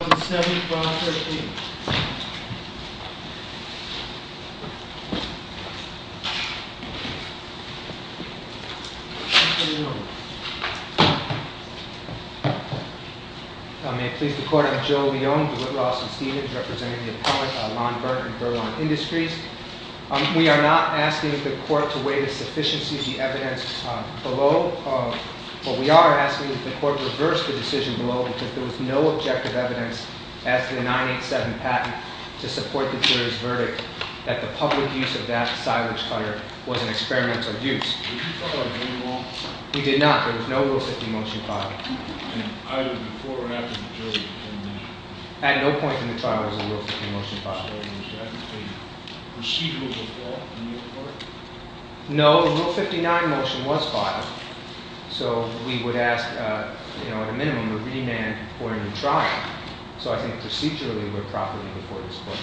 May it please the court, I'm Joe Leone, DeWitt, Ross, and Stevens, representing the appellant Lon Berndt of Berlon Industries. We are not asking the court to weigh the sufficiency of the evidence below. What we are asking is the court to reverse the decision below because there was no objective evidence as to the 987 patent to support the jury's verdict that the public use of that silage cutter was an experimental use. Did you file a ruling on it? We did not. There was no Rule 50 motion filed. Either before or after the jury's determination? At no point in the trial was a Rule 50 motion filed. Was there any procedural default in your court? No. The Rule 59 motion was filed. So we would ask, at a minimum, a remand or a new trial. So I think procedurally we're properly before this court.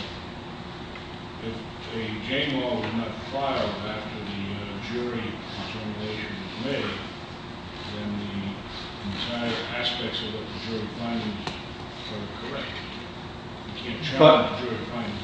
If the J-Law was not filed after the jury determination was made, then the entire aspects of the jury findings are correct. You can't challenge the jury findings.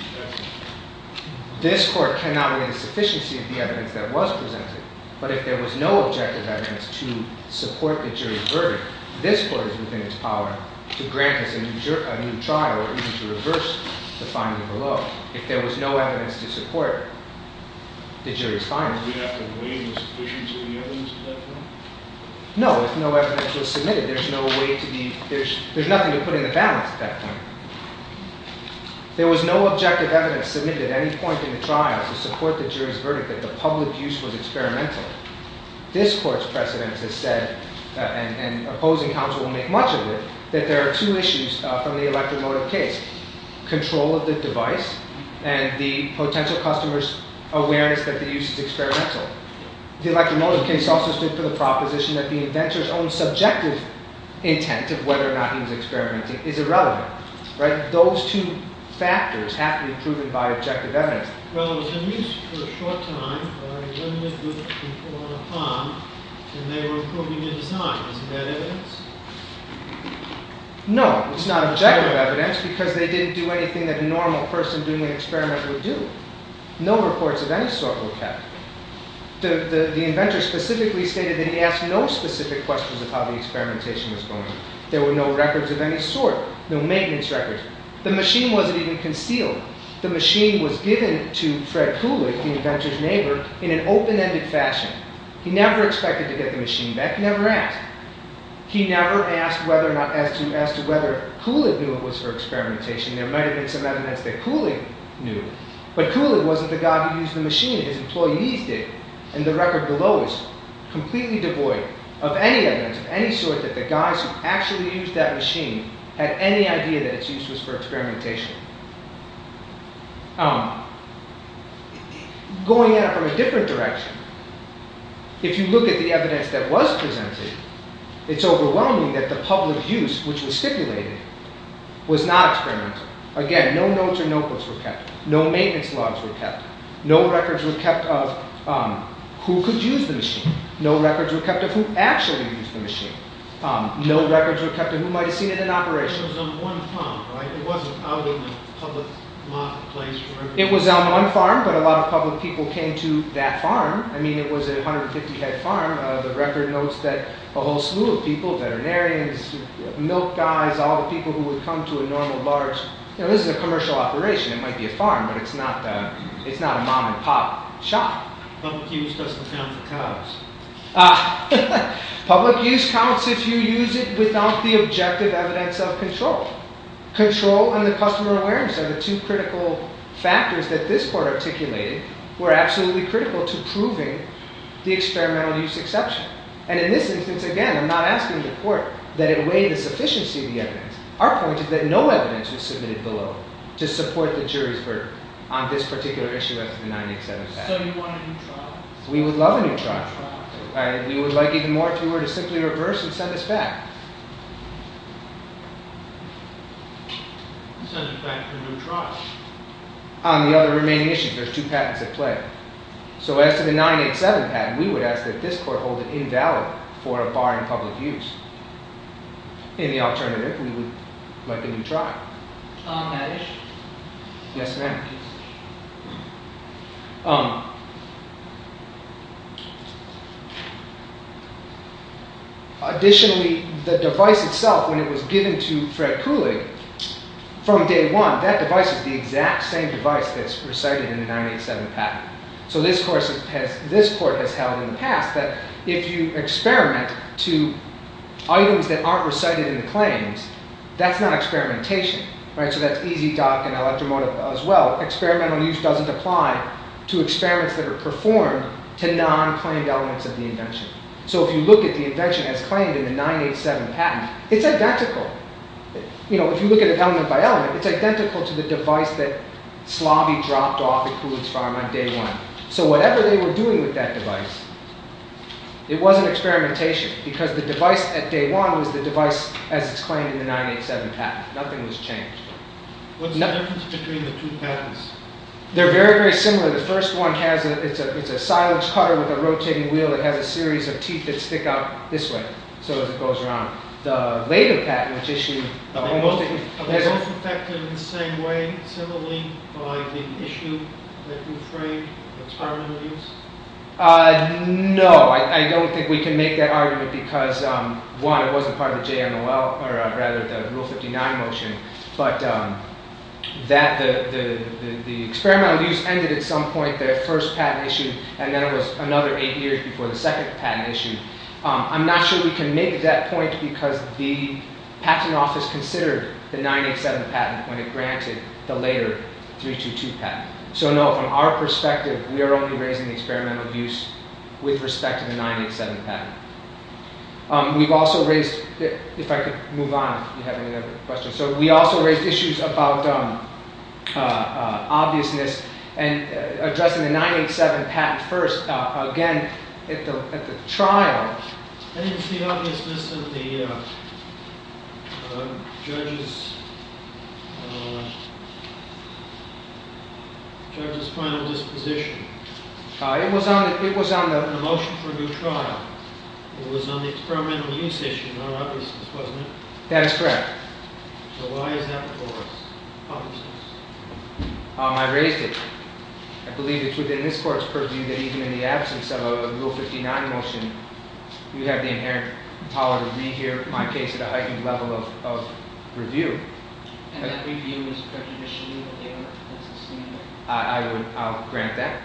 This court cannot weigh the sufficiency of the evidence that was presented. But if there was no objective evidence to support the jury's verdict, this court is within its power to grant us a new trial or even to reverse the finding below if there was no evidence to support the jury's findings. Do you have to weigh the sufficiency of the evidence at that point? No. If no evidence was submitted, there's nothing to put in the balance at that point. There was no objective evidence submitted at any point in the trial to support the jury's verdict that the public use was experimental. This court's precedent has said, and opposing counsel will make much of it, that there are two issues from the electromotive case. Control of the device and the potential customer's awareness that the use is experimental. The electromotive case also stood for the proposition that the inventor's own subjective intent of whether or not he was experimenting is irrelevant. Those two factors have to be proven by objective evidence. No, it's not objective evidence because they didn't do anything that a normal person doing an experiment would do. No reports of any sort were kept. The inventor specifically stated that he asked no specific questions of how the experimentation was going. There were no records of any sort, no maintenance records. The machine wasn't even concealed. The machine was given to Fred Kulig, the inventor's neighbor, in an open-ended fashion. He never expected to get the machine back, never asked. He never asked whether or not, as to whether Kulig knew it was for experimentation. There might have been some evidence that Kulig knew, but Kulig wasn't the guy who used the machine. His employees did, and the record below is completely devoid of any evidence of any sort that the guys who actually used that machine had any idea that its use was for experimentation. Going in from a different direction, if you look at the evidence that was presented, it's overwhelming that the public use, which was stipulated, was not experimental. Again, no notes or notebooks were kept. No maintenance logs were kept. No records were kept of who could use the machine. No records were kept of who actually used the machine. No records were kept of who might have seen it in operation. It was on one farm, but a lot of public people came to that farm. I mean, it was a 150-head farm. The record notes that a whole slew of people, veterinarians, milk guys, all the people who would come to a normal, large... This is a commercial operation. It might be a farm, but it's not a mom-and-pop shop. Public use counts if you use it without the objective evidence of control. Control and the customer awareness are the two critical factors that this court articulated were absolutely critical to proving the experimental use exception. And in this instance, again, I'm not asking the court that it weigh the sufficiency of the evidence. Our point is that no evidence was submitted below to support the jury's verdict on this particular issue as to the 987 patent. So you want a new trial? We would love a new trial. We would like even more if we were to simply reverse and send this back. Send it back for a new trial? On the other remaining issues, there's two patents at play. So as to the 987 patent, we would ask that this court hold it invalid for a bar in public use. Any alternative, we would like a new trial. On that issue? Yes, ma'am. Additionally, the device itself, when it was given to Fred Kulig from day one, that device is the exact same device that's recited in the 987 patent. So this court has held in the past that if you experiment to items that aren't recited in the claims, that's not experimentation. So that's EZDoc and Electromotive as well. Experimental use doesn't apply to experiments that are performed to non-claimed elements of the invention. So if you look at the invention as claimed in the 987 patent, it's identical. If you look at it element by element, it's identical to the device that Slobby dropped off at Kulig's farm on day one. So whatever they were doing with that device, it wasn't experimentation because the device at day one was the device as it's claimed in the 987 patent. Nothing was changed. What's the difference between the two patents? They're very, very similar. The first one, it's a silage cutter with a rotating wheel. It has a series of teeth that stick out this way. So as it goes around. The later patent, which issued... Are they both affected in the same way, similarly, by the issue that you're afraid of experimental use? No. I don't think we can make that argument because, one, it wasn't part of the JMOL, or rather the Rule 59 motion. But the experimental use ended at some point, the first patent issue, and then it was another eight years before the second patent issue. I'm not sure we can make that point because the patent office considered the 987 patent when it granted the later 322 patent. So no, from our perspective, we are only raising the experimental use with respect to the 987 patent. We've also raised... If I could move on, if you have any other questions. So we also raised issues about obviousness and addressing the 987 patent first. Again, at the trial... Judge's... Judge's final disposition. It was on the... The motion for a new trial. It was on the experimental use issue, not obviousness, wasn't it? That is correct. So why is that before us? I raised it. I believe it's within this court's purview that even in the absence of a Rule 59 motion, we have the inherent power to rehear my case at a heightened level of review. I'll grant that.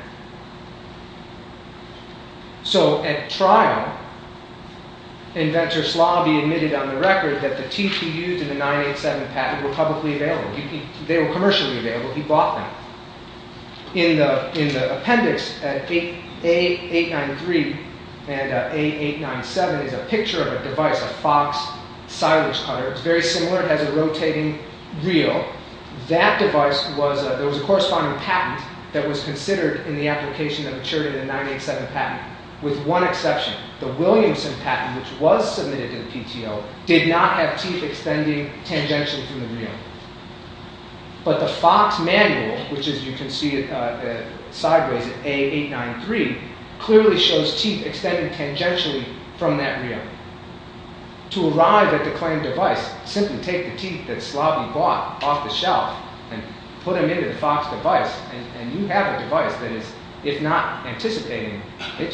So at trial, inventor Slobby admitted on the record that the TPUs and the 987 patent were publicly available. They were commercially available. He bought them. In the appendix, A893 and A897 is a picture of a device, a Fox silage cutter. It's very similar. It has a rotating reel. That device was... There was a corresponding patent that was considered in the application that matured in the 987 patent, with one exception. The Williamson patent, which was submitted to the PTO, did not have teeth extending tangentially from the reel. But the Fox manual, which as you can see sideways, A893, clearly shows teeth extending tangentially from that reel. To arrive at the claimed device, simply take the teeth that Slobby bought off the shelf and put them into the Fox device, and you have a device that is, if not anticipating, it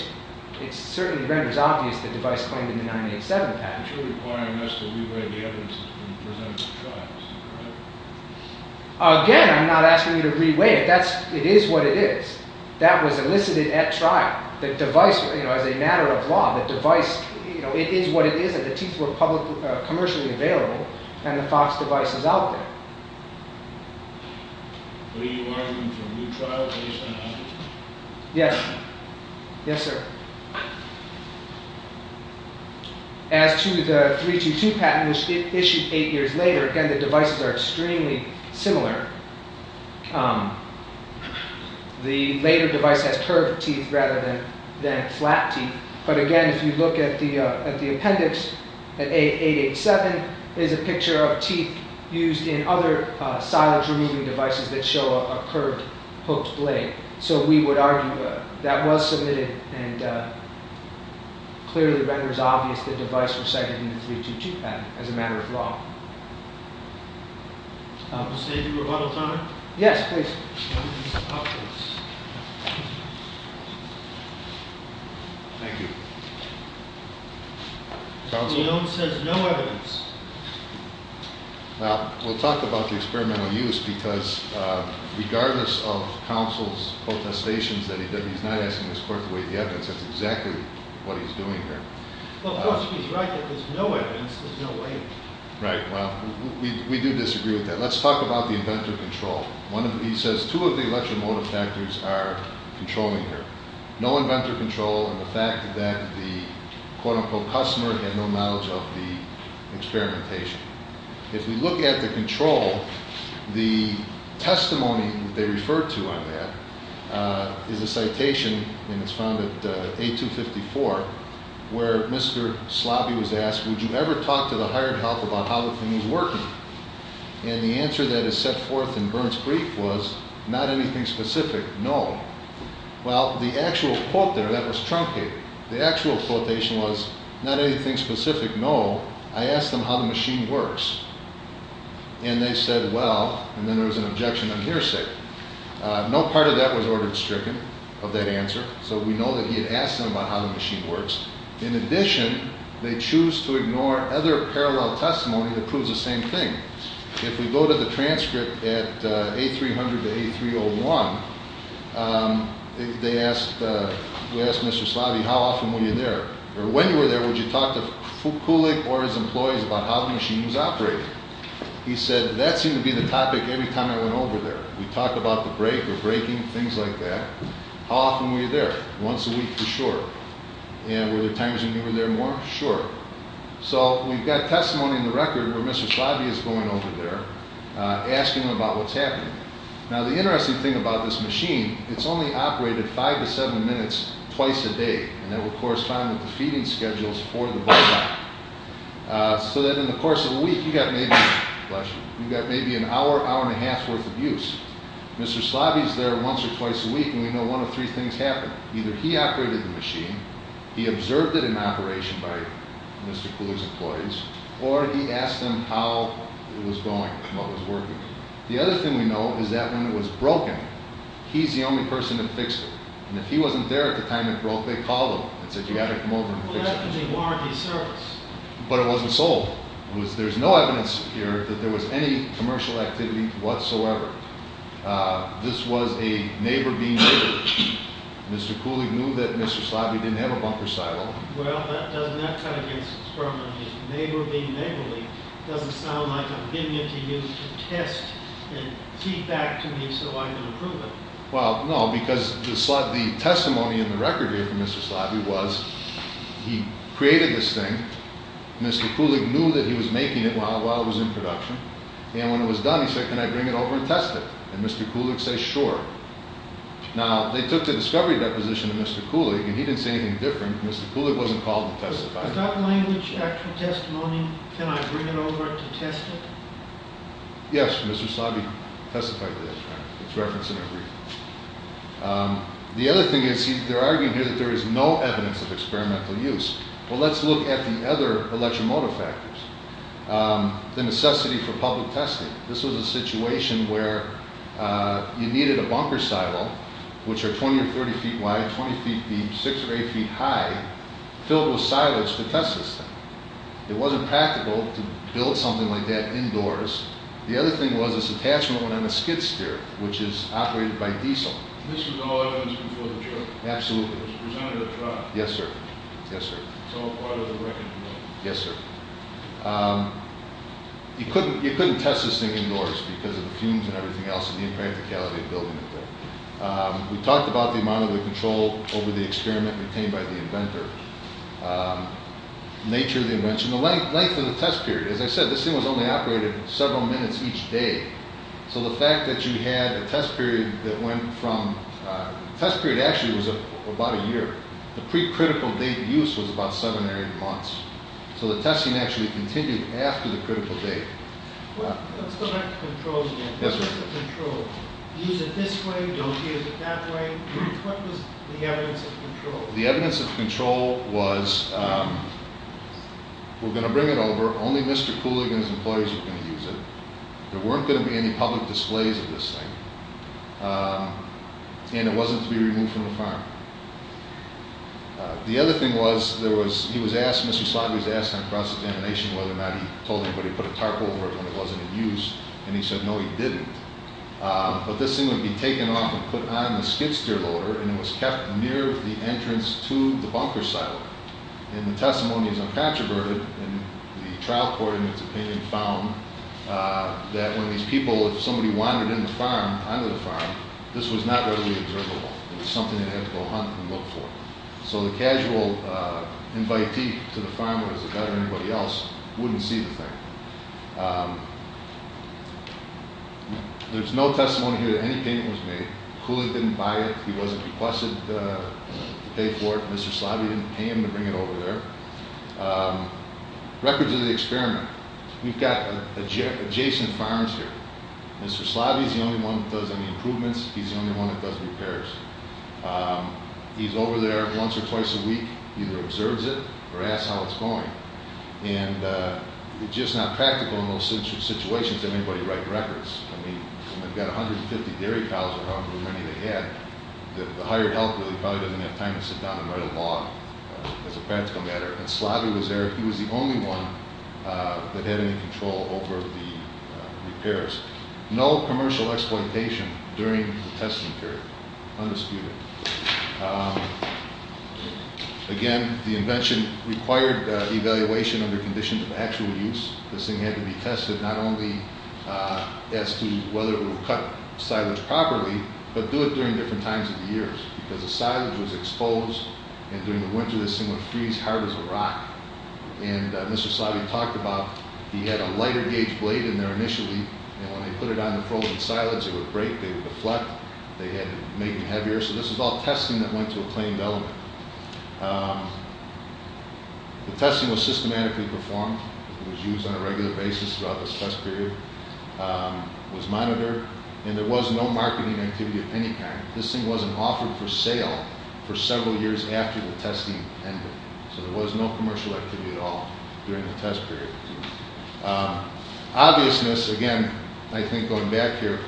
certainly renders obvious the device claimed in the 987 patent. But you're requiring us to re-weigh the evidence that's been presented at trials, correct? Again, I'm not asking you to re-weigh it. It is what it is. That was elicited at trial. The device, as a matter of law, the device, it is what it is. The teeth were commercially available, and the Fox device is out there. Are you arguing for a new trial based on that? Yes. Yes, sir. As to the 322 patent, which was issued eight years later, again, the devices are extremely similar. The later device has curved teeth rather than flat teeth. But again, if you look at the appendix, at A887 is a picture of teeth used in other silage-removing devices that show a curved, hooked blade. So we would argue that that was submitted, and clearly renders obvious the device was cited in the 322 patent, as a matter of law. Mr. Adrian Rabato-Conner? Yes, please. Thank you. Mr. Leone says no evidence. Well, we'll talk about the experimental use, because regardless of counsel's protestations that he's not asking this court to waive the evidence, that's exactly what he's doing here. Well, of course, he's right that there's no evidence. There's no way. Right, well, we do disagree with that. Let's talk about the inventor control. He says two of the electromotive factors are controlling here. No inventor control, and the fact that the quote-unquote customer had no knowledge of the experimentation. If we look at the control, the testimony that they referred to on that is a citation, and it's found at A254, where Mr. Slobby was asked, would you ever talk to the hired health about how the thing was working? And the answer that is set forth in Burns' brief was, not anything specific, no. Well, the actual quote there, that was truncated. The actual quotation was, not anything specific, no. I asked them how the machine works, and they said, well, and then there was an objection on hearsay. No part of that was ordered stricken, of that answer, so we know that he had asked them about how the machine works. In addition, they choose to ignore other parallel testimony that proves the same thing. If we go to the transcript at A300 to A301, we asked Mr. Slobby, how often were you there? Or when you were there, would you talk to Kulik or his employees about how the machine was operating? He said, that seemed to be the topic every time I went over there. We talked about the break or breaking, things like that. How often were you there? Once a week for sure. And were there times when you were there more? Sure. So we've got testimony in the record where Mr. Slobby is going over there asking about what's happening. Now, the interesting thing about this machine, it's only operated five to seven minutes twice a day, and that would correspond with the feeding schedules for the bulldog. So that in the course of a week, you've got maybe an hour, hour and a half worth of use. Mr. Slobby is there once or twice a week, and we know one of three things happened. Either he operated the machine, he observed it in operation by Mr. Kulik's employees, or he asked them how it was going, what was working. The other thing we know is that when it was broken, he's the only person that fixed it. And if he wasn't there at the time it broke, they called him and said, you've got to come over and fix it. Well, that could be warranty service. But it wasn't sold. There's no evidence here that there was any commercial activity whatsoever. This was a neighbor-being-neighbor. Mr. Kulik knew that Mr. Slobby didn't have a bunker silo. Well, doesn't that cut against the term neighbor-being-neighborly? It doesn't sound like a vignette he used to test and feedback to me so I can approve it. Well, no, because the testimony in the record here from Mr. Slobby was he created this thing. Mr. Kulik knew that he was making it while it was in production. And when it was done, he said, can I bring it over and test it? And Mr. Kulik said, sure. Now, they took the discovery deposition of Mr. Kulik, and he didn't say anything different. Mr. Kulik wasn't called to testify. Is that language, actual testimony, can I bring it over to test it? Yes, Mr. Slobby testified to this. It's referenced in your brief. The other thing is, they're arguing here that there is no evidence of experimental use. Well, let's look at the other electromotive factors. The necessity for public testing. This was a situation where you needed a bunker silo, which are 20 or 30 feet wide, 20 feet deep, 6 or 8 feet high, filled with silos to test this thing. It wasn't practical to build something like that indoors. The other thing was, this attachment went on a skid steer, which is operated by diesel. And this was all evidence before the trip? Absolutely. It was presented at trial? Yes, sir. Yes, sir. It's all part of the reckoning then? Yes, sir. You couldn't test this thing indoors because of the fumes and everything else and the impracticality of building it there. We talked about the amount of control over the experiment retained by the inventor. The nature of the invention. The length of the test period. As I said, this thing was only operated several minutes each day. So the fact that you had a test period that went from—the test period actually was about a year. The pre-critical date of use was about seven or eight months. So the testing actually continued after the critical date. Let's go back to control again. Yes, sir. What's the control? Do you use it this way? Do you use it that way? What was the evidence of control? The evidence of control was, we're going to bring it over. Only Mr. Kulig and his employees are going to use it. There weren't going to be any public displays of this thing. And it wasn't to be removed from the farm. The other thing was, he was asked—Mr. Slavy was asked on cross-examination whether or not he told anybody to put a tarp over it when it wasn't in use. And he said no, he didn't. But this thing would be taken off and put on the skid-steer loader, and it was kept near the entrance to the bunker silo. And the testimony is uncontroverted. And the trial court, in its opinion, found that when these people—if somebody wandered into the farm, onto the farm, this was not readily observable. It was something they had to go hunt and look for. So the casual invitee to the farm, whether it was a vet or anybody else, wouldn't see the thing. There's no testimony here that any payment was made. Kulig didn't buy it. He wasn't requested to pay for it. Mr. Slavy didn't pay him to bring it over there. Records of the experiment. We've got adjacent farms here. Mr. Slavy's the only one that does any improvements. He's the only one that does repairs. He's over there once or twice a week. He either observes it or asks how it's going. And it's just not practical in those situations to have anybody write records. I mean, they've got 150 dairy cows or however many they had. The hired helper probably doesn't have time to sit down and write a log, as a practical matter. And Slavy was there. He was the only one that had any control over the repairs. No commercial exploitation during the testing period. Undisputed. Again, the invention required evaluation under conditions of actual use. This thing had to be tested not only as to whether it would cut silage properly, but do it during different times of the year. Because the silage was exposed, and during the winter this thing would freeze hard as a rock. And Mr. Slavy talked about he had a lighter gauge blade in there initially, and when they put it on the frozen silage, it would break. They would deflect. They had to make it heavier. So this was all testing that went to a claimed element. The testing was systematically performed. It was used on a regular basis throughout this test period. It was monitored. And there was no marketing activity of any kind. This thing wasn't offered for sale for several years after the testing ended. So there was no commercial activity at all during the test period. Obviousness, again, I think going back here.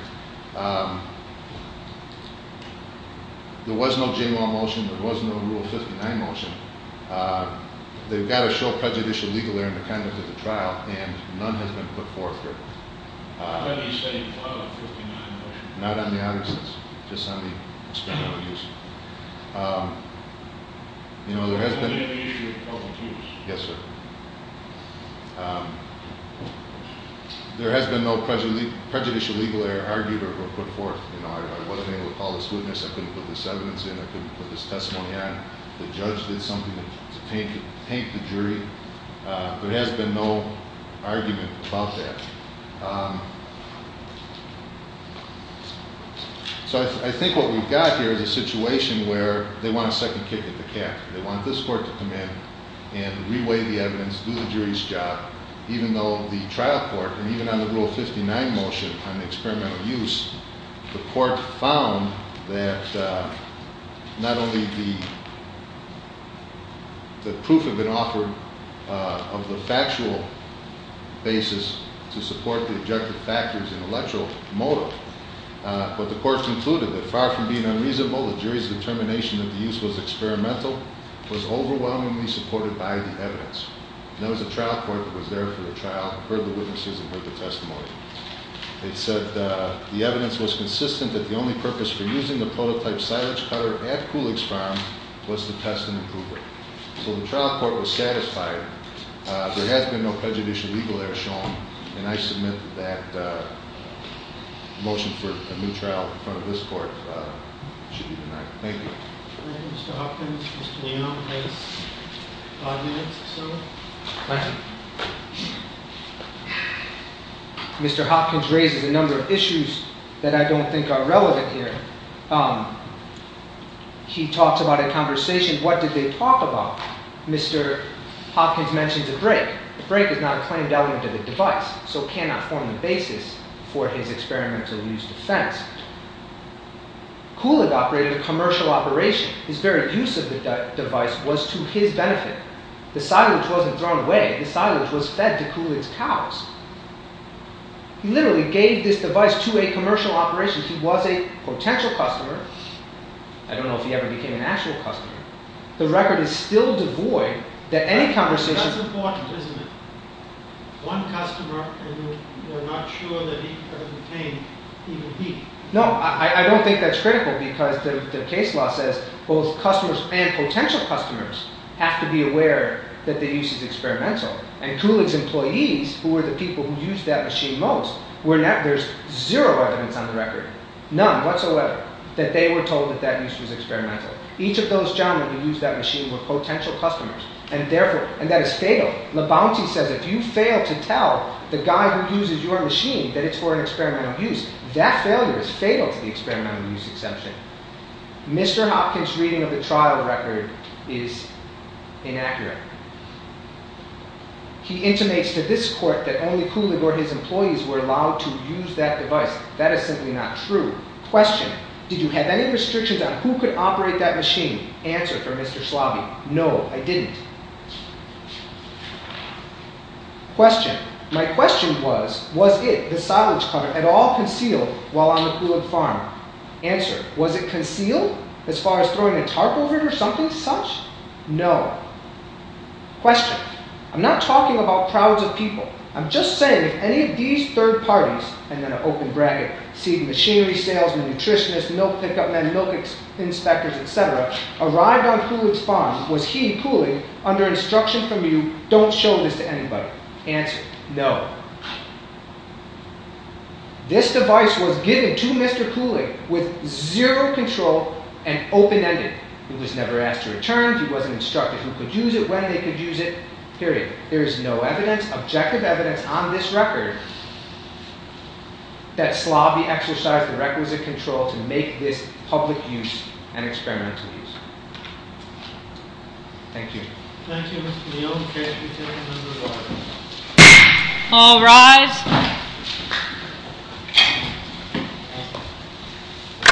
There was no J-Law motion. There was no Rule 59 motion. They've got to show prejudicial legal error in the conduct of the trial, and none has been put forth here. Not on the audits. It's just on the experimental use. You know, there has been... Yes, sir. There has been no prejudicial legal error argued or put forth. You know, I wasn't able to call this witness. I couldn't put this evidence in. I couldn't put this testimony on. The judge did something to taint the jury. There has been no argument about that. So I think what we've got here is a situation where they want a second kick at the cat. They want this court to come in and reweigh the evidence, do the jury's job, even though the trial court, and even on the Rule 59 motion on the experimental use, the court found that not only the proof had been offered of the factual basis to support the objective factors intellectual motive, but the court concluded that far from being unreasonable, the jury's determination that the use was experimental was overwhelmingly supported by the evidence. And there was a trial court that was there for the trial, heard the witnesses, and heard the testimony. They said the evidence was consistent that the only purpose for using the prototype silage cutter at Coolick's Farm was to test and improve it. So the trial court was satisfied. There has been no prejudicial legal error shown, and I submit that the motion for a new trial in front of this court should be denied. Thank you. Mr. Hopkins, Mr. Leon has five minutes or so. Thank you. Mr. Hopkins raises a number of issues that I don't think are relevant here. He talks about a conversation, what did they talk about? Mr. Hopkins mentions a brake. A brake is not a claimed element of a device, so cannot form the basis for his experimental use defense. Coolick operated a commercial operation. His very use of the device was to his benefit. The silage wasn't thrown away. The silage was fed to Coolick's cows. He literally gave this device to a commercial operation. He was a potential customer. I don't know if he ever became an actual customer. The record is still devoid that any conversation… That's important, isn't it? One customer, and we're not sure that he ever became even he. No, I don't think that's critical because the case law says both customers and potential customers have to be aware that the use is experimental, and Coolick's employees, who were the people who used that machine most, there's zero evidence on the record, none whatsoever, that they were told that that use was experimental. Each of those gentlemen who used that machine were potential customers, and that is fatal. Labonte says if you fail to tell the guy who uses your machine that it's for an experimental use, that failure is fatal to the experimental use exemption. Mr. Hopkins' reading of the trial record is inaccurate. He intimates to this court that only Coolick or his employees were allowed to use that device. That is simply not true. Question. Did you have any restrictions on who could operate that machine? Answer from Mr. Slobby. No, I didn't. Question. My question was, was it, the silage cover, at all concealed while on the Coolick farm? Answer. Was it concealed? As far as throwing a tarp over it or something such? No. Question. I'm not talking about crowds of people. I'm just saying if any of these third parties, and then an open bracket, see, machinery salesmen, nutritionists, milk pickup men, milk inspectors, etc., arrived on Coolick's farm, was he, Coolick, under instruction from you, don't show this to anybody? Answer. No. This device was given to Mr. Coolick with zero control and open-ended. He was never asked to return. He wasn't instructed who could use it, when they could use it. Period. There is no evidence, objective evidence, on this record that Slobby exercised the requisite control to make this public use an experimental use. Thank you. Thank you, Mr. Neal. All rise.